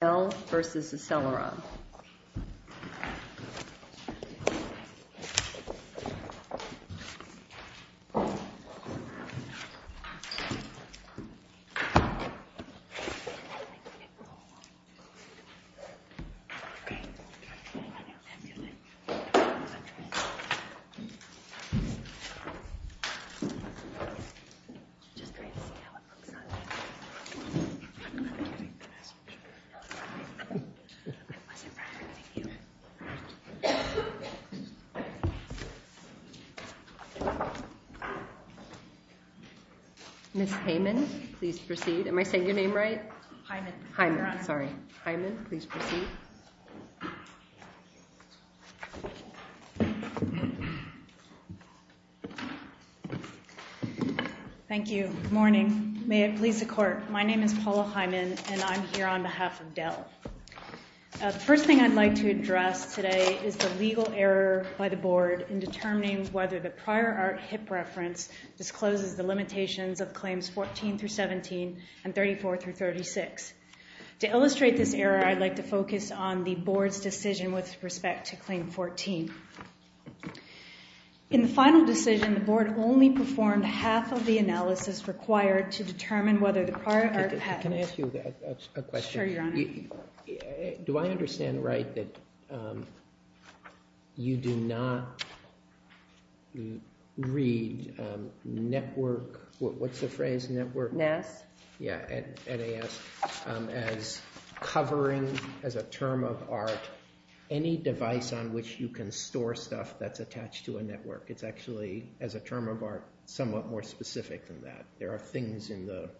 v. Acceleron, LLC. Ms. Heyman, please proceed. Am I saying your name right? Heyman. Heyman. Your Honor. Sorry. Heyman, please proceed. Thank you. Good morning. May it please the Court. My name is Paula Heyman, and I'm here on behalf of Dell. The first thing I'd like to address today is the legal error by the Board in determining whether the prior art HIP reference discloses the limitations of Claims 14-17 and 34-36. To illustrate this error, I'd like to focus on the Board's decision with respect to Claim 14. In the final decision, the Board only performed half of the analysis required to determine whether the prior art patent Can I ask you a question? Sure, Your Honor. Do I understand right that you do not read network, what's the phrase, network? NAS. Yeah, NAS. As covering, as a term of art, any device on which you can store stuff that's attached to a network. It's actually, as a term of art, somewhat more specific than that. There are things in the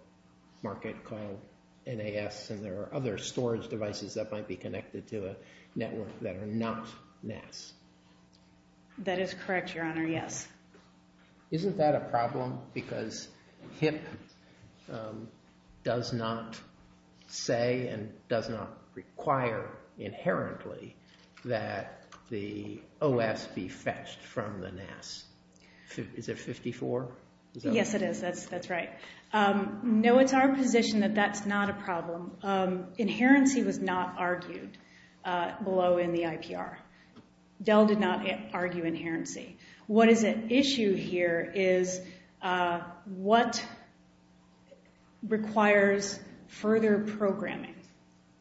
market called NAS, and there are other storage devices that might be connected to a network that are not NAS. That is correct, Your Honor, yes. Isn't that a problem? Because HIP does not say and does not require inherently that the OS be fetched from the NAS. Is it 54? Yes, it is. That's right. No, it's our position that that's not a problem. Inherency was not argued below in the IPR. Dell did not argue inherency. What is at issue here is what requires further programming.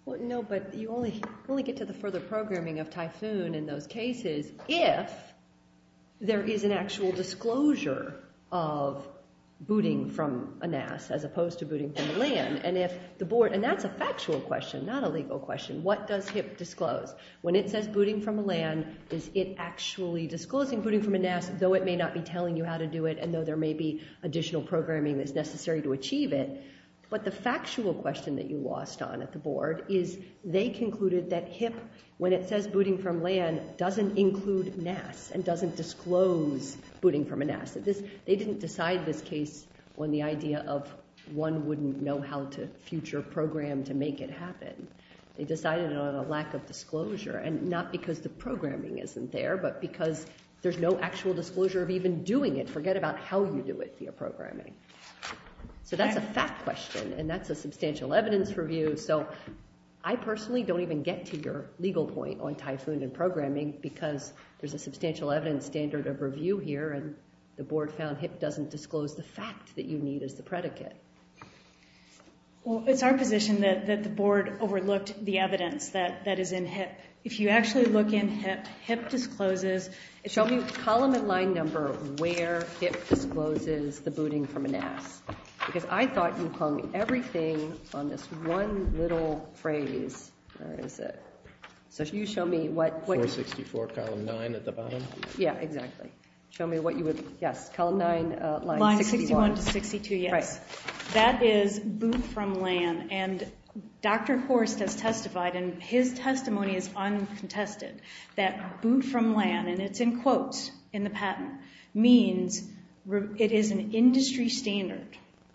No, but you only get to the further programming of Typhoon in those cases if there is an actual disclosure of booting from a NAS as opposed to booting from LAN. And that's a factual question, not a legal question. What does HIP disclose? When it says booting from a LAN, is it actually disclosing booting from a NAS, though it may not be telling you how to do it and though there may be additional programming that's necessary to achieve it? But the factual question that you lost on at the board is they concluded that HIP, when it says booting from LAN, doesn't include NAS and doesn't disclose booting from a NAS. They didn't decide this case on the idea of one wouldn't know how to future program to make it happen. They decided it on a lack of disclosure, and not because the programming isn't there, but because there's no actual disclosure of even doing it. Forget about how you do it via programming. So that's a fact question, and that's a substantial evidence review. So I personally don't even get to your legal point on Typhoon and programming because there's a substantial evidence standard of review here, and the board found HIP doesn't disclose the fact that you need as the predicate. Well, it's our position that the board overlooked the evidence that is in HIP. If you actually look in HIP, HIP discloses. Show me column and line number where HIP discloses the booting from a NAS, because I thought you hung everything on this one little phrase. Where is it? So can you show me what? 464, column 9 at the bottom. Yeah, exactly. Show me what you would, yes, column 9, line 61. 61 to 62, yes. That is boot from LAN, and Dr. Horst has testified, and his testimony is uncontested, that boot from LAN, and it's in quotes in the patent, means it is an industry standard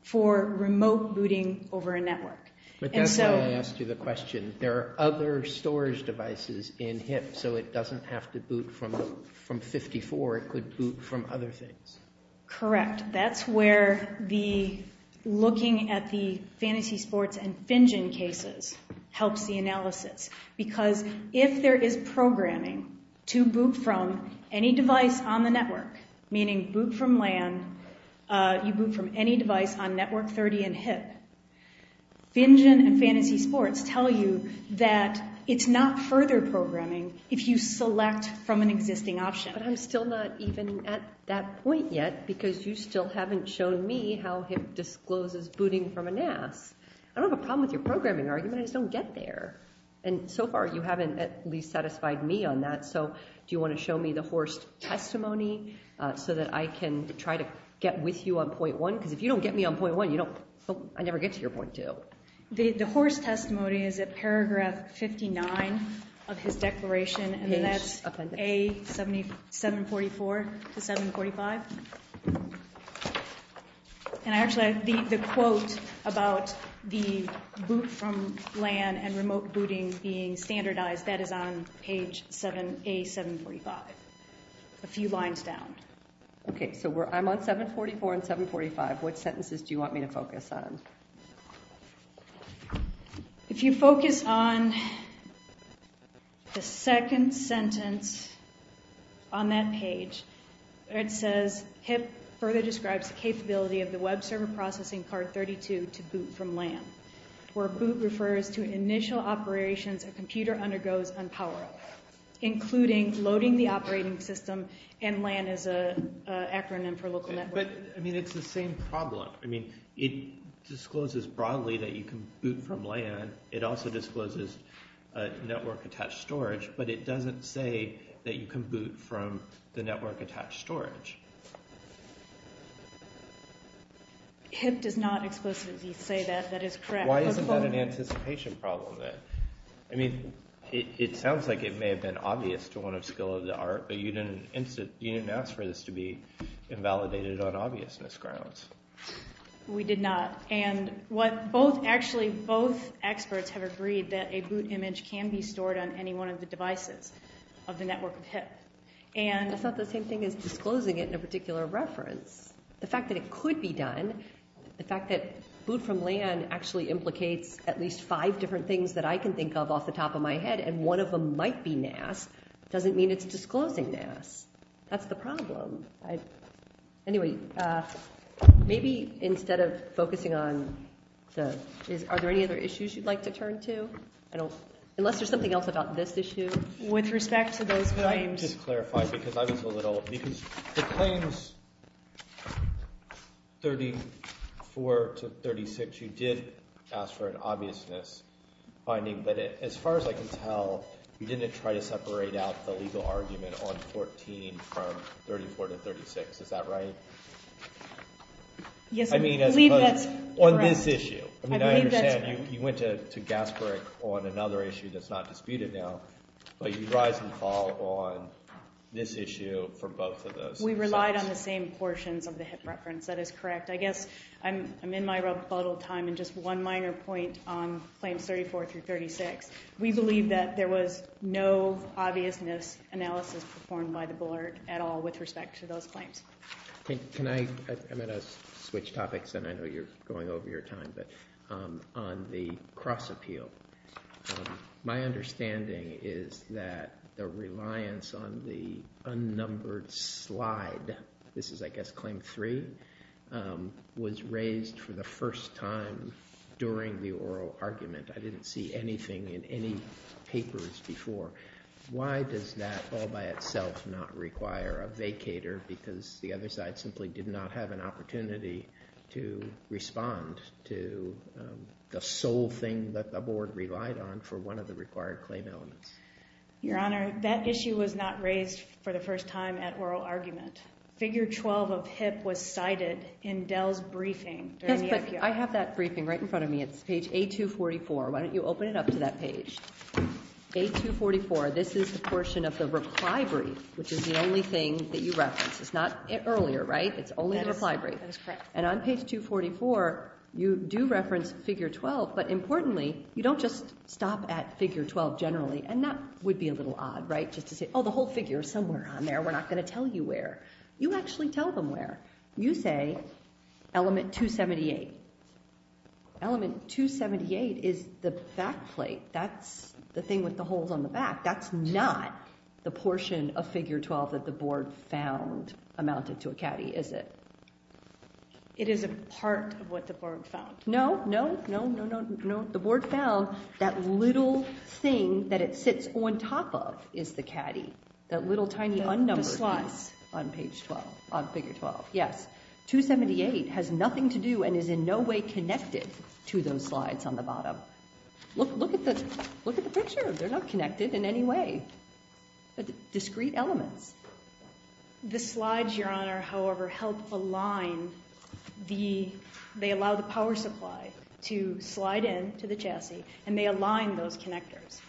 for remote booting over a network. But that's why I asked you the question. There are other storage devices in HIP, so it doesn't have to boot from 54. It could boot from other things. Correct. That's where the looking at the Fantasy Sports and FinGen cases helps the analysis, because if there is programming to boot from any device on the network, meaning boot from LAN, you boot from any device on network 30 in HIP, FinGen and Fantasy Sports tell you that it's not further programming if you select from an existing option. But I'm still not even at that point yet, because you still haven't shown me how HIP discloses booting from a NAS. I don't have a problem with your programming argument. I just don't get there. And so far, you haven't at least satisfied me on that. So do you want to show me the Horst testimony so that I can try to get with you on point one? Because if you don't get me on point one, I never get to your point two. The Horst testimony is at paragraph 59 of his declaration, and that's A744 to 745. And actually, the quote about the boot from LAN and remote booting being standardized, that is on page A745, a few lines down. OK, so I'm on 744 and 745. What sentences do you want me to focus on? If you focus on the second sentence on that page, it says HIP further describes the capability of the web server processing card 32 to boot from LAN, where boot refers to initial operations a computer undergoes on power-up, including loading the operating system, and LAN is an acronym for local network. But I mean, it's the same problem. I mean, it discloses broadly that you can boot from LAN. It also discloses network-attached storage, but it doesn't say that you can boot from the network-attached storage. HIP does not explicitly say that. That is correct. Why isn't that an anticipation problem then? I mean, it sounds like it may have been obvious to one of skill of the art, but you didn't ask for this to be invalidated on obviousness grounds. We did not. And actually, both experts have agreed that a boot image can be stored on any one of the devices of the network of HIP. That's not the same thing as disclosing it in a particular reference. The fact that it could be done, the fact that boot from LAN actually implicates at least five different things that I can think of off the top of my head, and one of them might be NAS, doesn't mean it's disclosing NAS. That's the problem. Anyway, maybe instead of focusing on the—are there any other issues you'd like to turn to? Unless there's something else about this issue. With respect to those claims— Let me just clarify because I was a little—because the claims 34 to 36, you did ask for an obviousness finding, but as far as I can tell, you didn't try to separate out the legal argument on 14 from 34 to 36. Is that right? Yes, I believe that's correct. I mean, on this issue. I believe that's— This issue for both of those. We relied on the same portions of the HIP reference. That is correct. I guess I'm in my rebuttal time, and just one minor point on claims 34 through 36. We believe that there was no obviousness analysis performed by the board at all with respect to those claims. Can I—I'm going to switch topics, and I know you're going over your time, but on the cross-appeal, my understanding is that the reliance on the unnumbered slide—this is, I guess, claim three— was raised for the first time during the oral argument. I didn't see anything in any papers before. Why does that all by itself not require a vacator? Because the other side simply did not have an opportunity to respond to the sole thing that the board relied on for one of the required claim elements. Your Honor, that issue was not raised for the first time at oral argument. Figure 12 of HIP was cited in Dell's briefing. I have that briefing right in front of me. It's page A244. Why don't you open it up to that page? Page A244. This is the portion of the reply brief, which is the only thing that you reference. It's not earlier, right? It's only the reply brief. That is correct. And on page 244, you do reference figure 12, but importantly, you don't just stop at figure 12 generally. And that would be a little odd, right, just to say, oh, the whole figure is somewhere on there. We're not going to tell you where. You actually tell them where. You say element 278. Element 278 is the back plate. That's the thing with the holes on the back. That's not the portion of figure 12 that the board found amounted to a caddy, is it? It is a part of what the board found. No, no, no, no, no, no. The board found that little thing that it sits on top of is the caddy, that little tiny unnumbered thing on figure 12. Yes. 278 has nothing to do and is in no way connected to those slides on the bottom. Look at the picture. They're not connected in any way, but discrete elements. The slides, Your Honor, however, help align the – they allow the power supply to slide in to the chassis, and they align those connectors.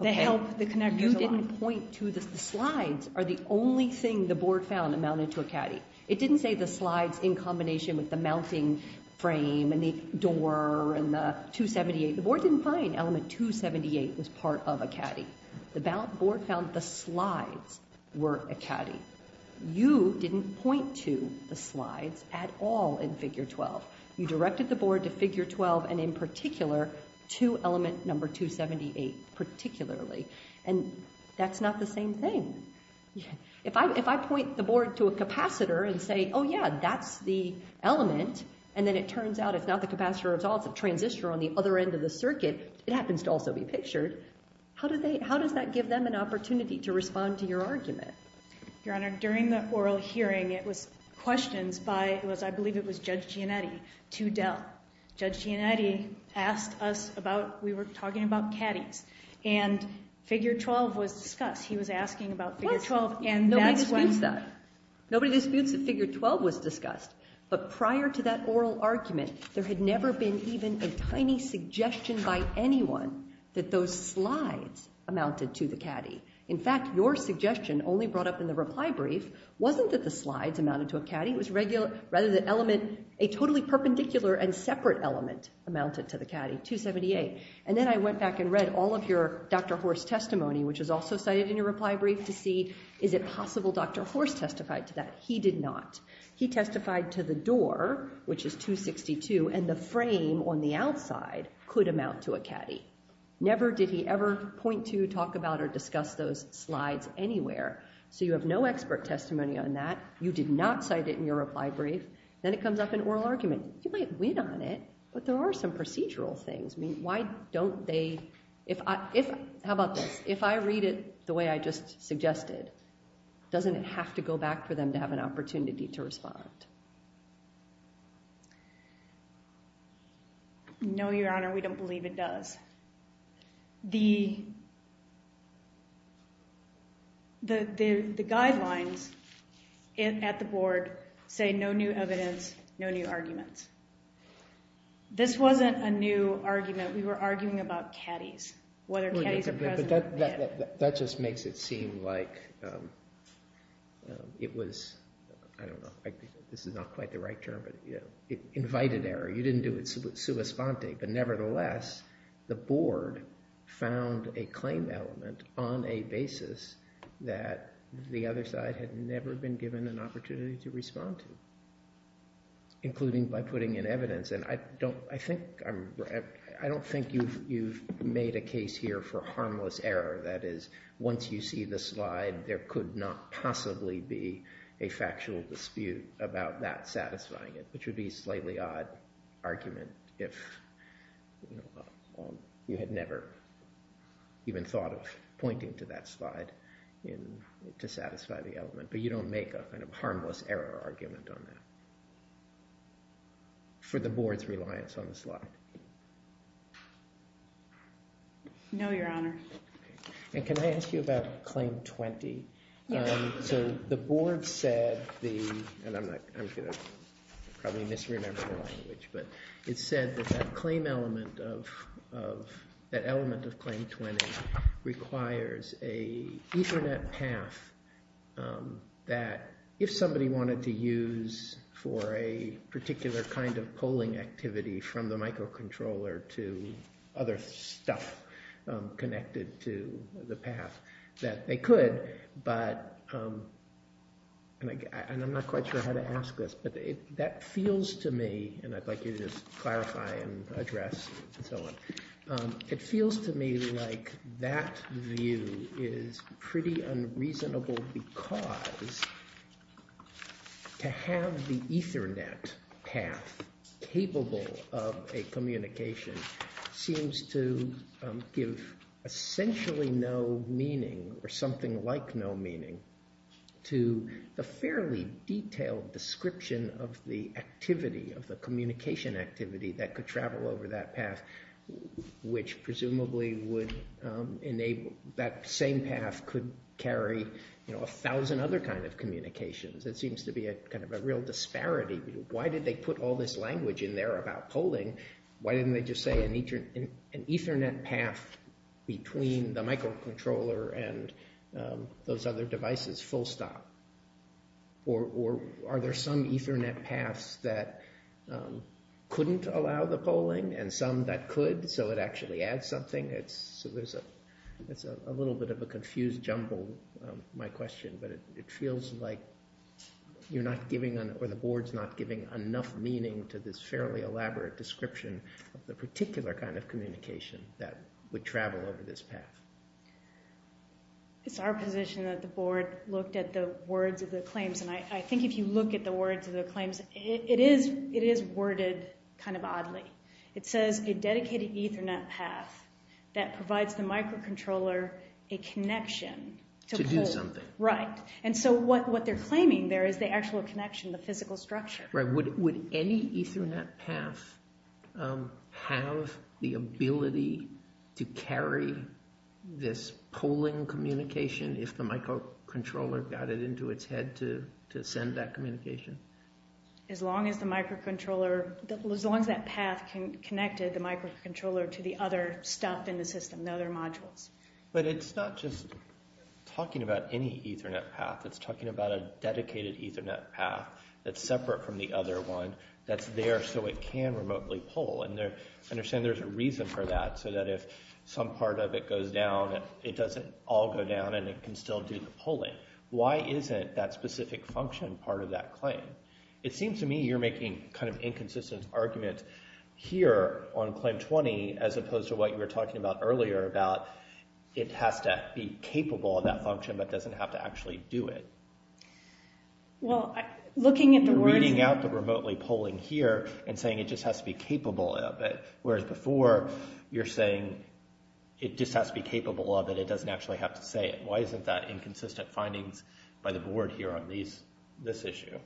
They help the connectors align. The slides are the only thing the board found amounted to a caddy. It didn't say the slides in combination with the mounting frame and the door and the 278. The board didn't find element 278 was part of a caddy. The board found the slides were a caddy. You didn't point to the slides at all in figure 12. You directed the board to figure 12 and in particular to element number 278 particularly. And that's not the same thing. If I point the board to a capacitor and say, oh, yeah, that's the element, and then it turns out it's not the capacitor at all. It's a transistor on the other end of the circuit. It happens to also be pictured. How does that give them an opportunity to respond to your argument? Your Honor, during the oral hearing, it was questioned by – I believe it was Judge Gianetti to Dell. Judge Gianetti asked us about – we were talking about caddies. And figure 12 was discussed. He was asking about figure 12, and that's when – Nobody disputes that. Nobody disputes that figure 12 was discussed. But prior to that oral argument, there had never been even a tiny suggestion by anyone that those slides amounted to the caddy. In fact, your suggestion only brought up in the reply brief wasn't that the slides amounted to a caddy. It was rather the element – a totally perpendicular and separate element amounted to the caddy, 278. And then I went back and read all of your – Dr. Horst's testimony, which was also cited in your reply brief, to see is it possible Dr. Horst testified to that. He did not. He testified to the door, which is 262, and the frame on the outside could amount to a caddy. Never did he ever point to, talk about, or discuss those slides anywhere. So you have no expert testimony on that. You did not cite it in your reply brief. Then it comes up in oral argument. You might win on it, but there are some procedural things. I mean, why don't they – how about this? If I read it the way I just suggested, doesn't it have to go back for them to have an opportunity to respond? No, Your Honor. We don't believe it does. The guidelines at the board say no new evidence, no new arguments. This wasn't a new argument. We were arguing about caddies, whether caddies are present or not. That just makes it seem like it was – I don't know. I think this is not quite the right term, but invited error. You didn't do it sua sponte, but nevertheless the board found a claim element on a basis that the other side had never been given an opportunity to respond to, including by putting in evidence. And I don't think you've made a case here for harmless error. That is, once you see the slide, there could not possibly be a factual dispute about that satisfying it, which would be a slightly odd argument if you had never even thought of pointing to that slide to satisfy the element. But you don't make a kind of harmless error argument on that for the board's reliance on the slide. No, Your Honor. And can I ask you about claim 20? So the board said the – and I'm going to probably misremember the language, but it said that that claim element of – that element of claim 20 requires a Ethernet path that, if somebody wanted to use for a particular kind of polling activity from the microcontroller to other stuff connected to the path, that they could. But – and I'm not quite sure how to ask this, but that feels to me – and I'd like you to just clarify and address and so on. It feels to me like that view is pretty unreasonable because to have the Ethernet path capable of a communication seems to give essentially no meaning or something like no meaning to the fairly detailed description of the activity, of the communication activity that could travel over that path, which presumably would enable – that same path could carry a thousand other kind of communications. It seems to be a kind of a real disparity. Why did they put all this language in there about polling? Why didn't they just say an Ethernet path between the microcontroller and those other devices, full stop? Or are there some Ethernet paths that couldn't allow the polling and some that could so it actually adds something? It's a little bit of a confused jumble, my question, but it feels like you're not giving – or the board's not giving enough meaning to this fairly elaborate description of the particular kind of communication that would travel over this path. It's our position that the board looked at the words of the claims, and I think if you look at the words of the claims, it is worded kind of oddly. It says a dedicated Ethernet path that provides the microcontroller a connection to poll. To do something. Right, and so what they're claiming there is the actual connection, the physical structure. Would any Ethernet path have the ability to carry this polling communication if the microcontroller got it into its head to send that communication? As long as the microcontroller – as long as that path connected the microcontroller to the other stuff in the system, the other modules. But it's not just talking about any Ethernet path. It's talking about a dedicated Ethernet path that's separate from the other one that's there so it can remotely poll. And I understand there's a reason for that, so that if some part of it goes down, it doesn't all go down and it can still do the polling. Why isn't that specific function part of that claim? It seems to me you're making kind of inconsistent argument here on Claim 20 as opposed to what you were talking about earlier about it has to be capable of that function but doesn't have to actually do it. You're reading out the remotely polling here and saying it just has to be capable of it, whereas before you're saying it just has to be capable of it, it doesn't actually have to say it. Why isn't that inconsistent findings by the board here on this issue?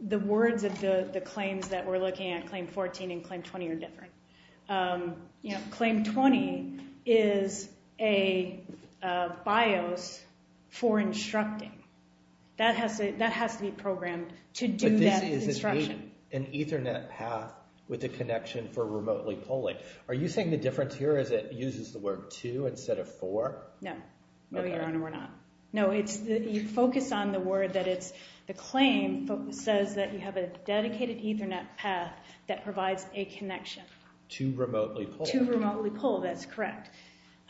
The words of the claims that we're looking at, Claim 14 and Claim 20, are different. Claim 20 is a BIOS for instructing. That has to be programmed to do that instruction. But this is an Ethernet path with a connection for remotely polling. Are you saying the difference here is it uses the word to instead of for? No. No, Your Honor, we're not. No, you focus on the word that the claim says that you have a dedicated Ethernet path that provides a connection. To remotely poll. To remotely poll, that's correct.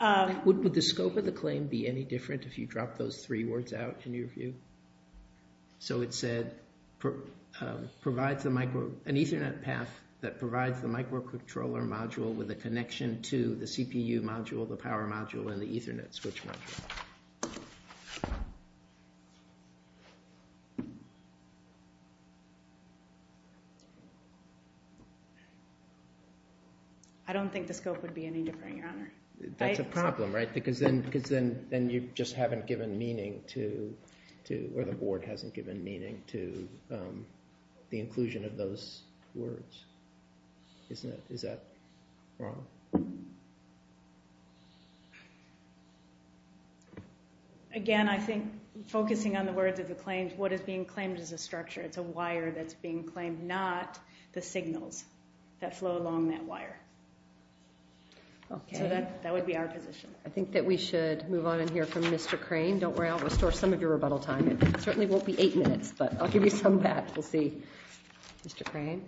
Would the scope of the claim be any different if you drop those three words out in your view? So it said provides an Ethernet path that provides the microcontroller module with a connection to the CPU module, the power module, and the Ethernet switch module. I don't think the scope would be any different, Your Honor. That's a problem, right? Because then you just haven't given meaning to, or the board hasn't given meaning to, the inclusion of those words. Is that wrong? Again, I think focusing on the words of the claims, what is being claimed is a structure. It's a wire that's being claimed, not the signals that flow along that wire. So that would be our position. I think that we should move on and hear from Mr. Crane. Don't worry, I'll restore some of your rebuttal time. It certainly won't be eight minutes, but I'll give you some back. We'll see. Mr. Crane.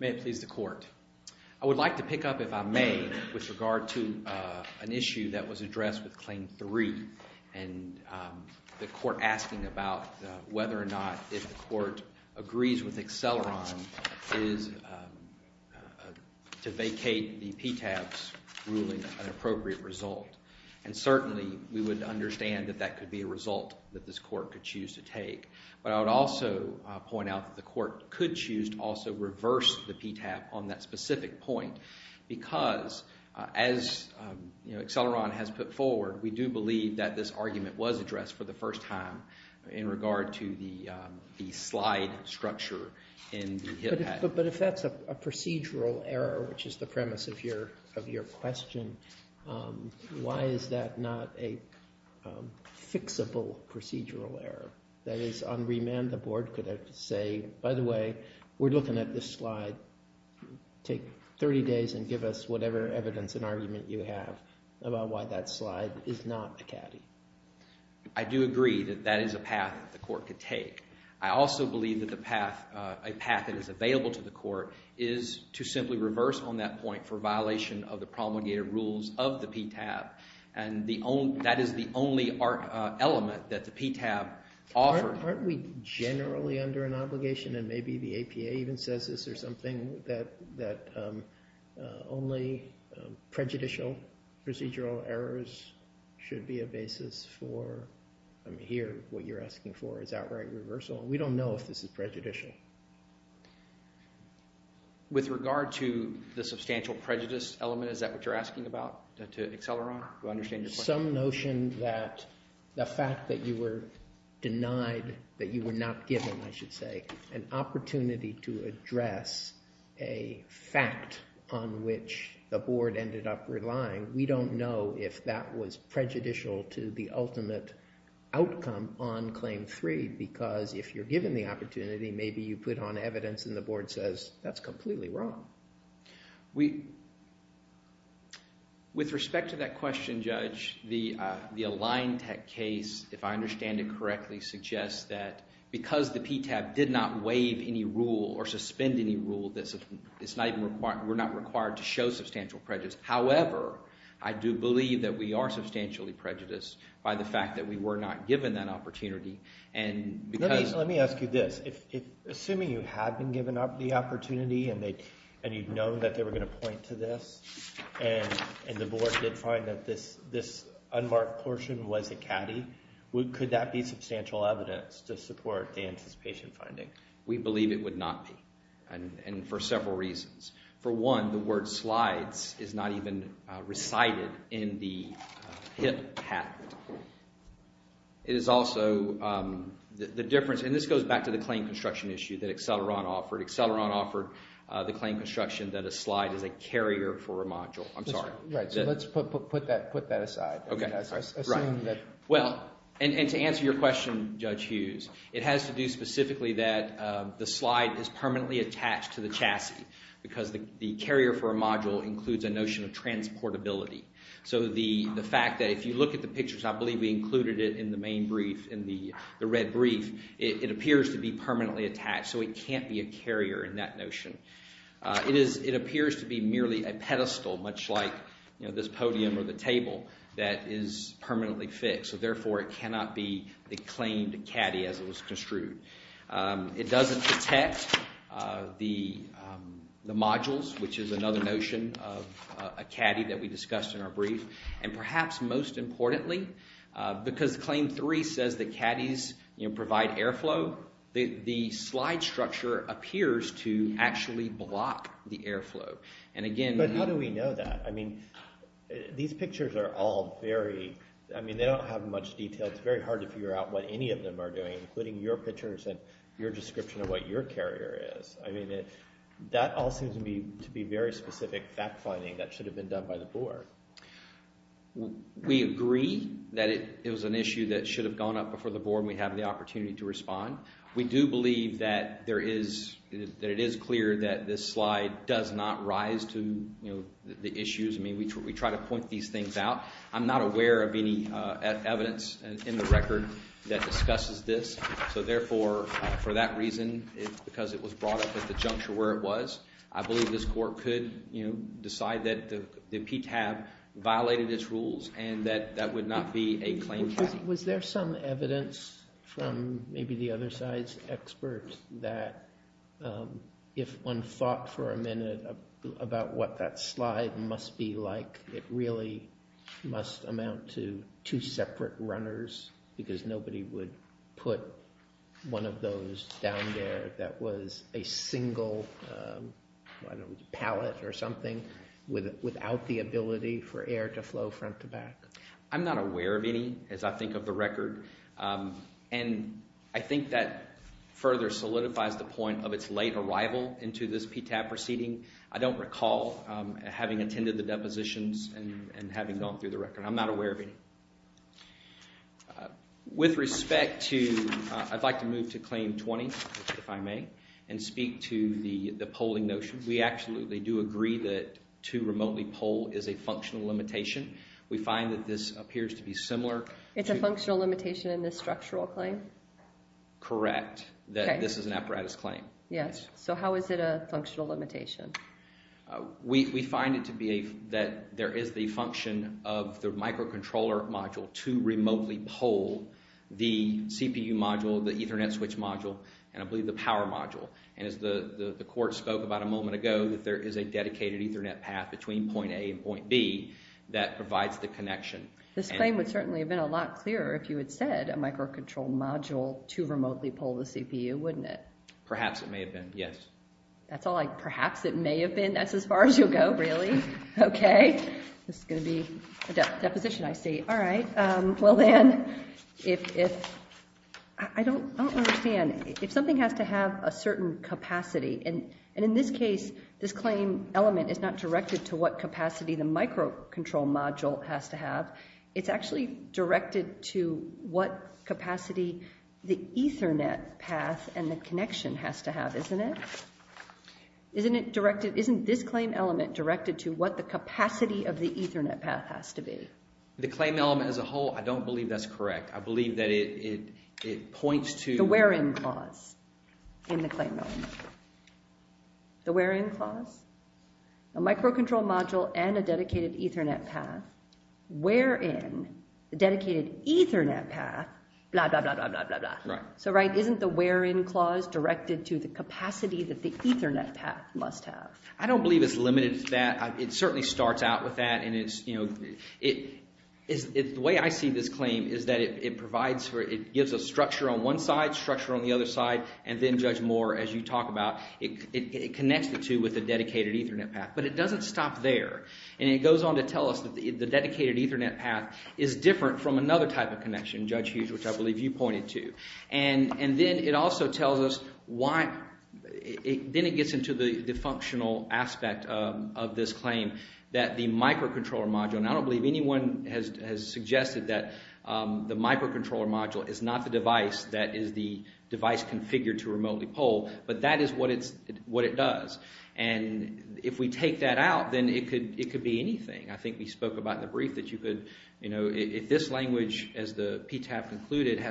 May it please the Court. I would like to pick up, if I may, with regard to an issue that was addressed with Claim 3 and the court asking about whether or not if the court agrees with Acceleron is to vacate the PTAB's ruling an appropriate result. And certainly we would understand that that could be a result that this court could choose to take. But I would also point out that the court could choose to also reverse the PTAB on that specific point because, as Acceleron has put forward, we do believe that this argument was addressed for the first time in regard to the slide structure in the HIPAA. But if that's a procedural error, which is the premise of your question, why is that not a fixable procedural error? That is, on remand the board could have to say, by the way, we're looking at this slide. Take 30 days and give us whatever evidence and argument you have about why that slide is not a caddy. I do agree that that is a path that the court could take. I also believe that a path that is available to the court is to simply reverse on that point for violation of the promulgated rules of the PTAB, and that is the only element that the PTAB offered. Aren't we generally under an obligation, and maybe the APA even says this or something, that only prejudicial procedural errors should be a basis for, I mean, here what you're asking for is outright reversal. We don't know if this is prejudicial. With regard to the substantial prejudice element, is that what you're asking about to Acceleron? Do I understand your question? Some notion that the fact that you were denied, that you were not given, I should say, an opportunity to address a fact on which the board ended up relying, we don't know if that was prejudicial to the ultimate outcome on Claim 3 because if you're given the opportunity, maybe you put on evidence and the board says, that's completely wrong. With respect to that question, Judge, the Align Tech case, if I understand it correctly, suggests that because the PTAB did not waive any rule or suspend any rule, we're not required to show substantial prejudice. However, I do believe that we are substantially prejudiced by the fact that we were not given that opportunity. Let me ask you this. Assuming you had been given the opportunity and you'd known that they were going to point to this and the board did find that this unmarked portion was a caddy, could that be substantial evidence to support the anticipation finding? We believe it would not be and for several reasons. For one, the word slides is not even recited in the HIPP pathway. It is also the difference, and this goes back to the claim construction issue that Acceleron offered. Acceleron offered the claim construction that a slide is a carrier for a module. I'm sorry. Right, so let's put that aside. Okay, right. Assume that. Well, and to answer your question, Judge Hughes, it has to do specifically that the slide is permanently attached to the chassis because the carrier for a module includes a notion of transportability. So the fact that if you look at the pictures, I believe we included it in the main brief, in the red brief, it appears to be permanently attached, so it can't be a carrier in that notion. It appears to be merely a pedestal, much like this podium or the table, that is permanently fixed, so therefore it cannot be the claimed caddy as it was construed. It doesn't protect the modules, which is another notion of a caddy that we discussed in our brief. And perhaps most importantly, because Claim 3 says that caddies provide airflow, the slide structure appears to actually block the airflow. But how do we know that? I mean, these pictures are all very, I mean, they don't have much detail. It's very hard to figure out what any of them are doing, including your pictures and your description of what your carrier is. I mean, that all seems to be very specific fact-finding that should have been done by the Board. We agree that it was an issue that should have gone up before the Board, and we have the opportunity to respond. We do believe that it is clear that this slide does not rise to the issues. I mean, we try to point these things out. I'm not aware of any evidence in the record that discusses this. So therefore, for that reason, because it was brought up at the juncture where it was, I believe this Court could decide that the PTAB violated its rules and that that would not be a claimed caddy. Was there some evidence from maybe the other side's experts that if one thought for a minute about what that slide must be like, it really must amount to two separate runners because nobody would put one of those down there that was a single pallet or something without the ability for air to flow front to back? I'm not aware of any, as I think of the record. And I think that further solidifies the point of its late arrival into this PTAB proceeding. I don't recall having attended the depositions and having gone through the record. I'm not aware of any. With respect to, I'd like to move to Claim 20, if I may, and speak to the polling notions. We absolutely do agree that to remotely poll is a functional limitation. We find that this appears to be similar. It's a functional limitation in this structural claim? Correct, that this is an apparatus claim. Yes, so how is it a functional limitation? We find it to be that there is the function of the microcontroller module to remotely poll the CPU module, the Ethernet switch module, and I believe the power module. And as the court spoke about a moment ago, that there is a dedicated Ethernet path between point A and point B that provides the connection. This claim would certainly have been a lot clearer if you had said a microcontroller module to remotely poll the CPU, wouldn't it? Perhaps it may have been, yes. That's all I, perhaps it may have been? That's as far as you'll go, really? Okay, this is going to be a deposition, I see. All right, well then, if, I don't understand. If something has to have a certain capacity, and in this case, this claim element is not directed to what capacity the microcontroller module has to have. It's actually directed to what capacity the Ethernet path and the connection has to have, isn't it? Isn't it directed, isn't this claim element directed to what the capacity of the Ethernet path has to be? The claim element as a whole, I don't believe that's correct. I believe that it points to... ...in the claim element. The where-in clause? A microcontroller module and a dedicated Ethernet path, where-in, a dedicated Ethernet path, blah, blah, blah, blah, blah, blah, blah. So, right, isn't the where-in clause directed to the capacity that the Ethernet path must have? I don't believe it's limited to that. It certainly starts out with that, and it's, you know, it... The way I see this claim is that it provides for, it gives a structure on one side, structure on the other side, and then, Judge Moore, as you talk about, it connects the two with a dedicated Ethernet path. But it doesn't stop there. And it goes on to tell us that the dedicated Ethernet path is different from another type of connection, Judge Hughes, which I believe you pointed to. And then it also tells us why... Then it gets into the functional aspect of this claim, that the microcontroller module, and I don't believe anyone has suggested that the microcontroller module is not the device that is the device configured to remotely poll. But that is what it does. And if we take that out, then it could be anything. I think we spoke about in the brief that you could, you know, if this language, as the PTAP concluded,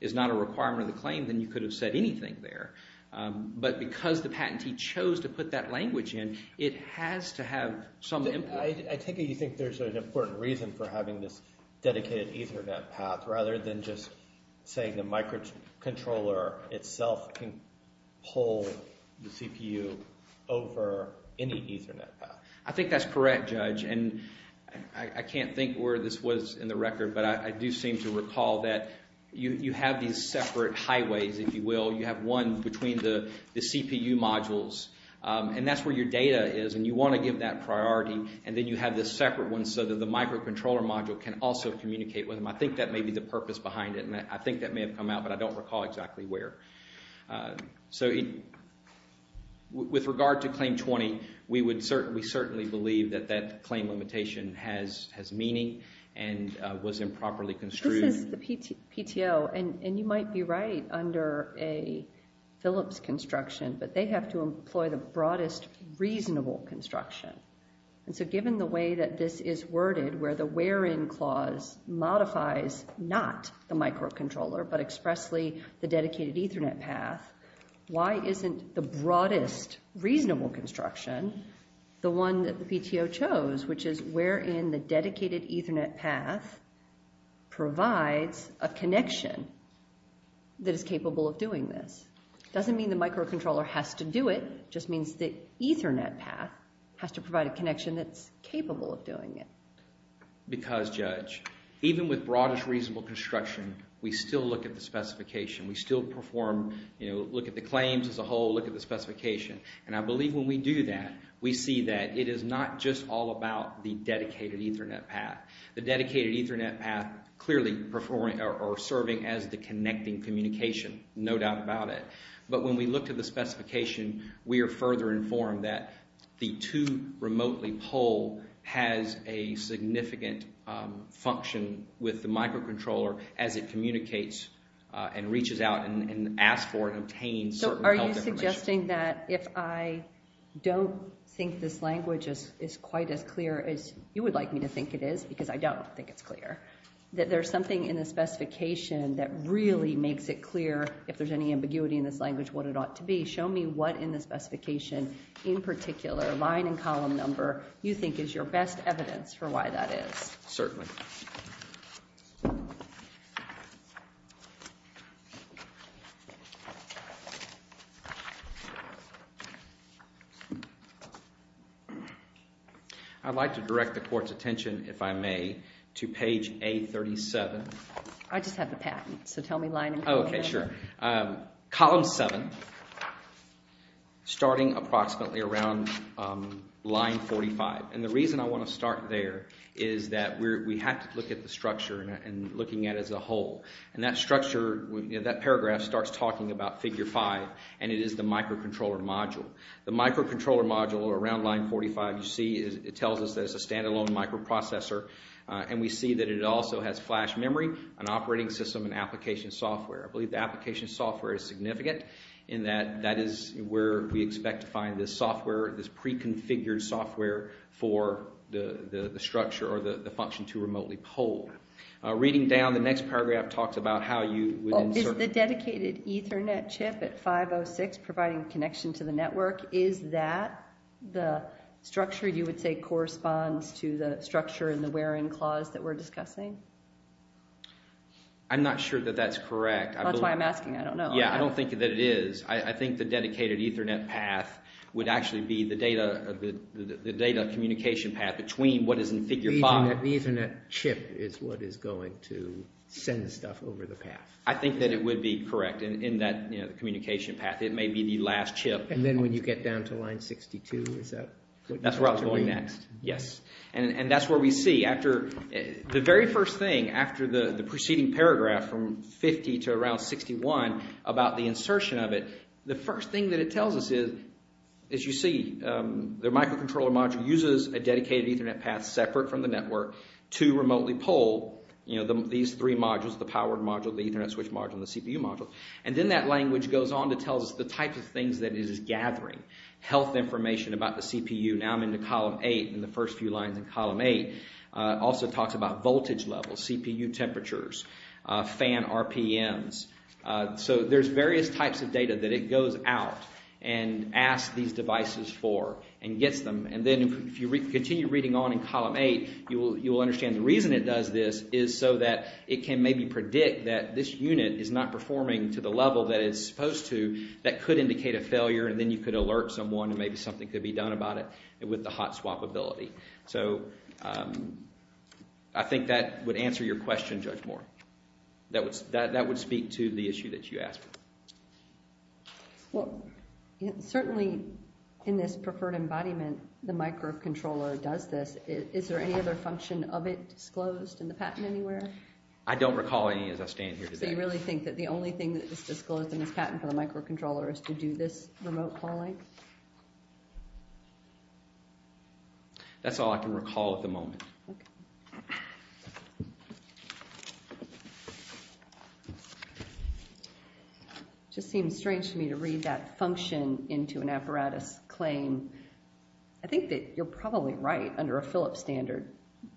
is not a requirement of the claim, then you could have said anything there. But because the patentee chose to put that language in, it has to have some... I take it you think there's an important reason for having this dedicated Ethernet path rather than just saying the microcontroller itself can poll the CPU over any Ethernet path. I think that's correct, Judge, and I can't think where this was in the record, but I do seem to recall that you have these separate highways, if you will. You have one between the CPU modules, and that's where your data is, and you want to give that priority. And then you have this separate one so that the microcontroller module can also communicate with them. I think that may be the purpose behind it, and I think that may have come out, but I don't recall exactly where. So with regard to Claim 20, we certainly believe that that claim limitation has meaning and was improperly construed. This is the PTO, and you might be right under a Philips construction, but they have to employ the broadest reasonable construction. And so given the way that this is worded, where the where-in clause modifies not the microcontroller but expressly the dedicated Ethernet path, why isn't the broadest reasonable construction the one that the PTO chose, which is wherein the dedicated Ethernet path provides a connection that is capable of doing this? It doesn't mean the microcontroller has to do it. It just means the Ethernet path has to provide a connection that's capable of doing it. Because, Judge, even with broadest reasonable construction, we still look at the specification. We still perform – look at the claims as a whole, look at the specification. And I believe when we do that, we see that it is not just all about the dedicated Ethernet path. The dedicated Ethernet path clearly performing or serving as the connecting communication, no doubt about it. But when we look at the specification, we are further informed that the to-remotely poll has a significant function with the microcontroller as it communicates and reaches out and asks for and obtains certain health information. It's interesting that if I don't think this language is quite as clear as you would like me to think it is, because I don't think it's clear, that there's something in the specification that really makes it clear, if there's any ambiguity in this language, what it ought to be. Show me what in the specification, in particular, line and column number, you think is your best evidence for why that is. Certainly. I'd like to direct the court's attention, if I may, to page A37. I just have the patent, so tell me line and column number. Okay, sure. Column 7, starting approximately around line 45. And the reason I want to start there is that we have to look at the structure and looking at it as a whole. And that structure, that paragraph starts talking about figure 5, and it is the microcontroller module. The microcontroller module around line 45, you see, it tells us there's a standalone microprocessor, and we see that it also has flash memory, an operating system, and application software. I believe the application software is significant in that that is where we expect to find this software, this preconfigured software for the structure or the function to remotely poll. Reading down, the next paragraph talks about how you would insert... Is the dedicated Ethernet chip at 506 providing connection to the network, is that the structure you would say corresponds to the structure in the where-in clause that we're discussing? I'm not sure that that's correct. That's why I'm asking, I don't know. Yeah, I don't think that it is. I think the dedicated Ethernet path would actually be the data communication path between what is in figure 5. The Ethernet chip is what is going to send stuff over the path. I think that it would be correct in that communication path. It may be the last chip. And then when you get down to line 62, is that what you're going to read? That's where I was going next, yes. And that's where we see after the very first thing, after the preceding paragraph from 50 to around 61 about the insertion of it, the first thing that it tells us is, as you see, the microcontroller module uses a dedicated Ethernet path separate from the network to remotely poll these three modules, the powered module, the Ethernet switch module, and the CPU module. And then that language goes on to tell us the types of things that it is gathering, health information about the CPU. Now I'm in the column 8, in the first few lines in column 8. It also talks about voltage levels, CPU temperatures, fan RPMs. So there's various types of data that it goes out and asks these devices for and gets them. And then if you continue reading on in column 8, you will understand the reason it does this is so that it can maybe predict that this unit is not performing to the level that it's supposed to that could indicate a failure, and then you could alert someone and maybe something could be done about it with the hot swap ability. So I think that would answer your question, Judge Moore. That would speak to the issue that you asked. Well, certainly in this preferred embodiment, the microcontroller does this. Is there any other function of it disclosed in the patent anywhere? I don't recall any as I stand here today. So you really think that the only thing that is disclosed in this patent for the microcontroller is to do this remote calling? That's all I can recall at the moment. It just seems strange to me to read that function into an apparatus claim. I think that you're probably right under a Philips standard,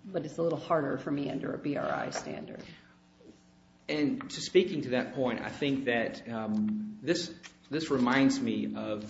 but it's a little harder for me under a BRI standard. And speaking to that point, I think that this reminds me of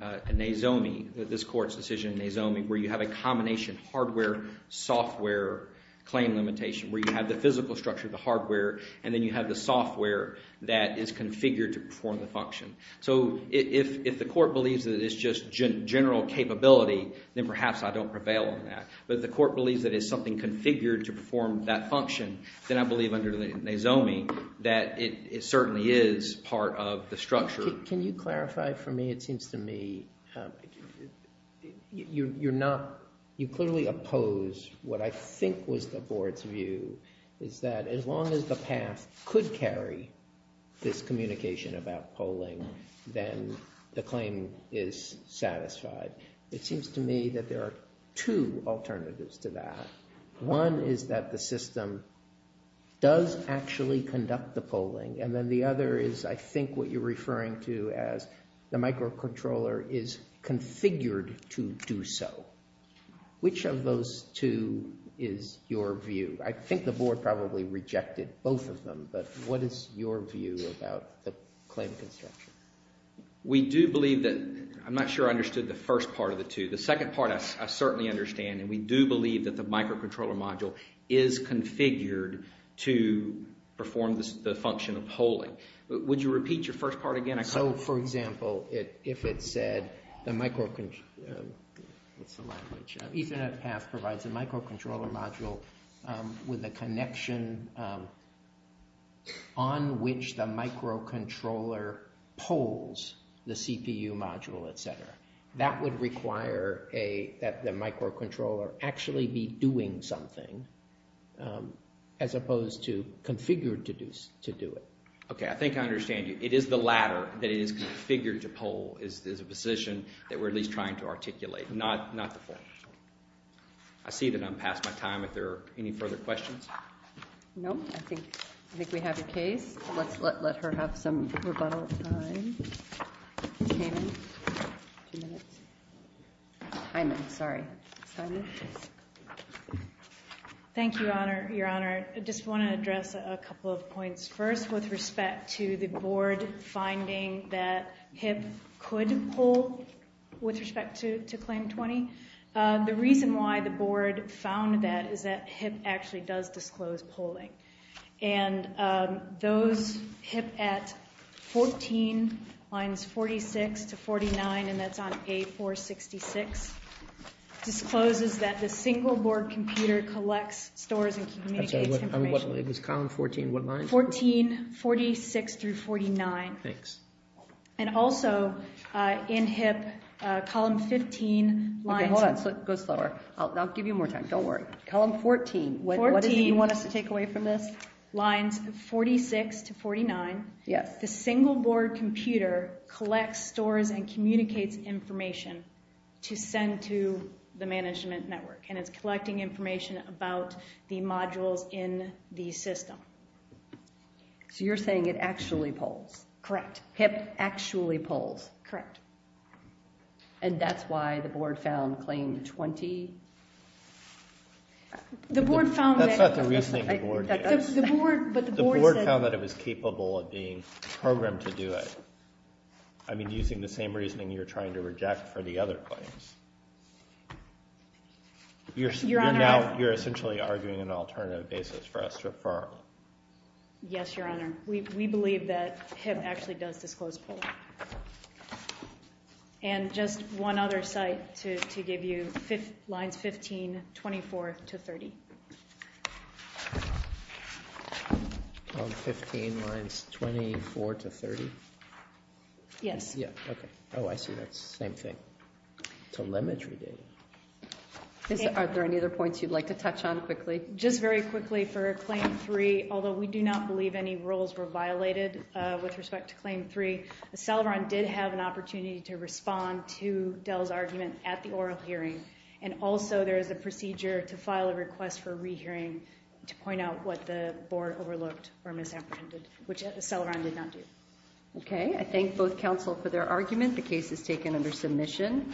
a NAZOMI, this court's decision in NAZOMI where you have a combination hardware-software claim limitation where you have the physical structure, the hardware, and then you have the software that is configured to perform the function. So if the court believes that it's just general capability, then perhaps I don't prevail on that. But if the court believes that it's something configured to perform that function, then I believe under the NAZOMI that it certainly is part of the structure. Can you clarify for me? It seems to me you're not – you clearly oppose what I think was the board's view, is that as long as the past could carry this communication about polling, then the claim is satisfied. It seems to me that there are two alternatives to that. One is that the system does actually conduct the polling, and then the other is I think what you're referring to as the microcontroller is configured to do so. Which of those two is your view? I think the board probably rejected both of them, but what is your view about the claim construction? We do believe that – I'm not sure I understood the first part of the two. The second part I certainly understand, and we do believe that the microcontroller module is configured to perform the function of polling. Would you repeat your first part again? So, for example, if it said the micro – what's the language? Ethernet path provides a microcontroller module with a connection on which the microcontroller polls the CPU module, etc. That would require that the microcontroller actually be doing something as opposed to configured to do it. Okay, I think I understand you. It is the latter that it is configured to poll is a position that we're at least trying to articulate, not the full. I see that I'm past my time. Are there any further questions? No, I think we have your case. Let's let her have some rebuttal time. Two minutes. I'm sorry. Simon? Thank you, Your Honor. I just want to address a couple of points. First, with respect to the board finding that HIP could poll with respect to Claim 20, the reason why the board found that is that HIP actually does disclose polling. And those HIP at 14 lines 46 to 49, and that's on page 466, discloses that the single-board computer collects, stores, and communicates information. I'm sorry. It was column 14. What line? 14, 46 through 49. Thanks. And also, in HIP, column 15 – Okay, hold on. Go slower. I'll give you more time. Don't worry. Column 14. What do you want us to take away from this? Lines 46 to 49. Yes. The single-board computer collects, stores, and communicates information to send to the management network, and it's collecting information about the modules in the system. So you're saying it actually polls? Correct. HIP actually polls? Correct. And that's why the board found Claim 20? The board found that – That's not the reasoning the board gave. The board found that it was capable of being programmed to do it. I mean, using the same reasoning you're trying to reject for the other claims. Your Honor – You're essentially arguing an alternative basis for us to affirm. Yes, Your Honor. We believe that HIP actually does disclose polling. And just one other site to give you. Lines 15, 24 to 30. Lines 15, lines 24 to 30? Yes. Okay. Oh, I see. That's the same thing. Telemetry data. Are there any other points you'd like to touch on quickly? Just very quickly for Claim 3. Although we do not believe any rules were violated with respect to Claim 3, Celeron did have an opportunity to respond to Dell's argument at the oral hearing. And also there is a procedure to file a request for a rehearing to point out what the board overlooked or misapprehended, which Celeron did not do. Okay. I thank both counsel for their argument. The case is taken under submission.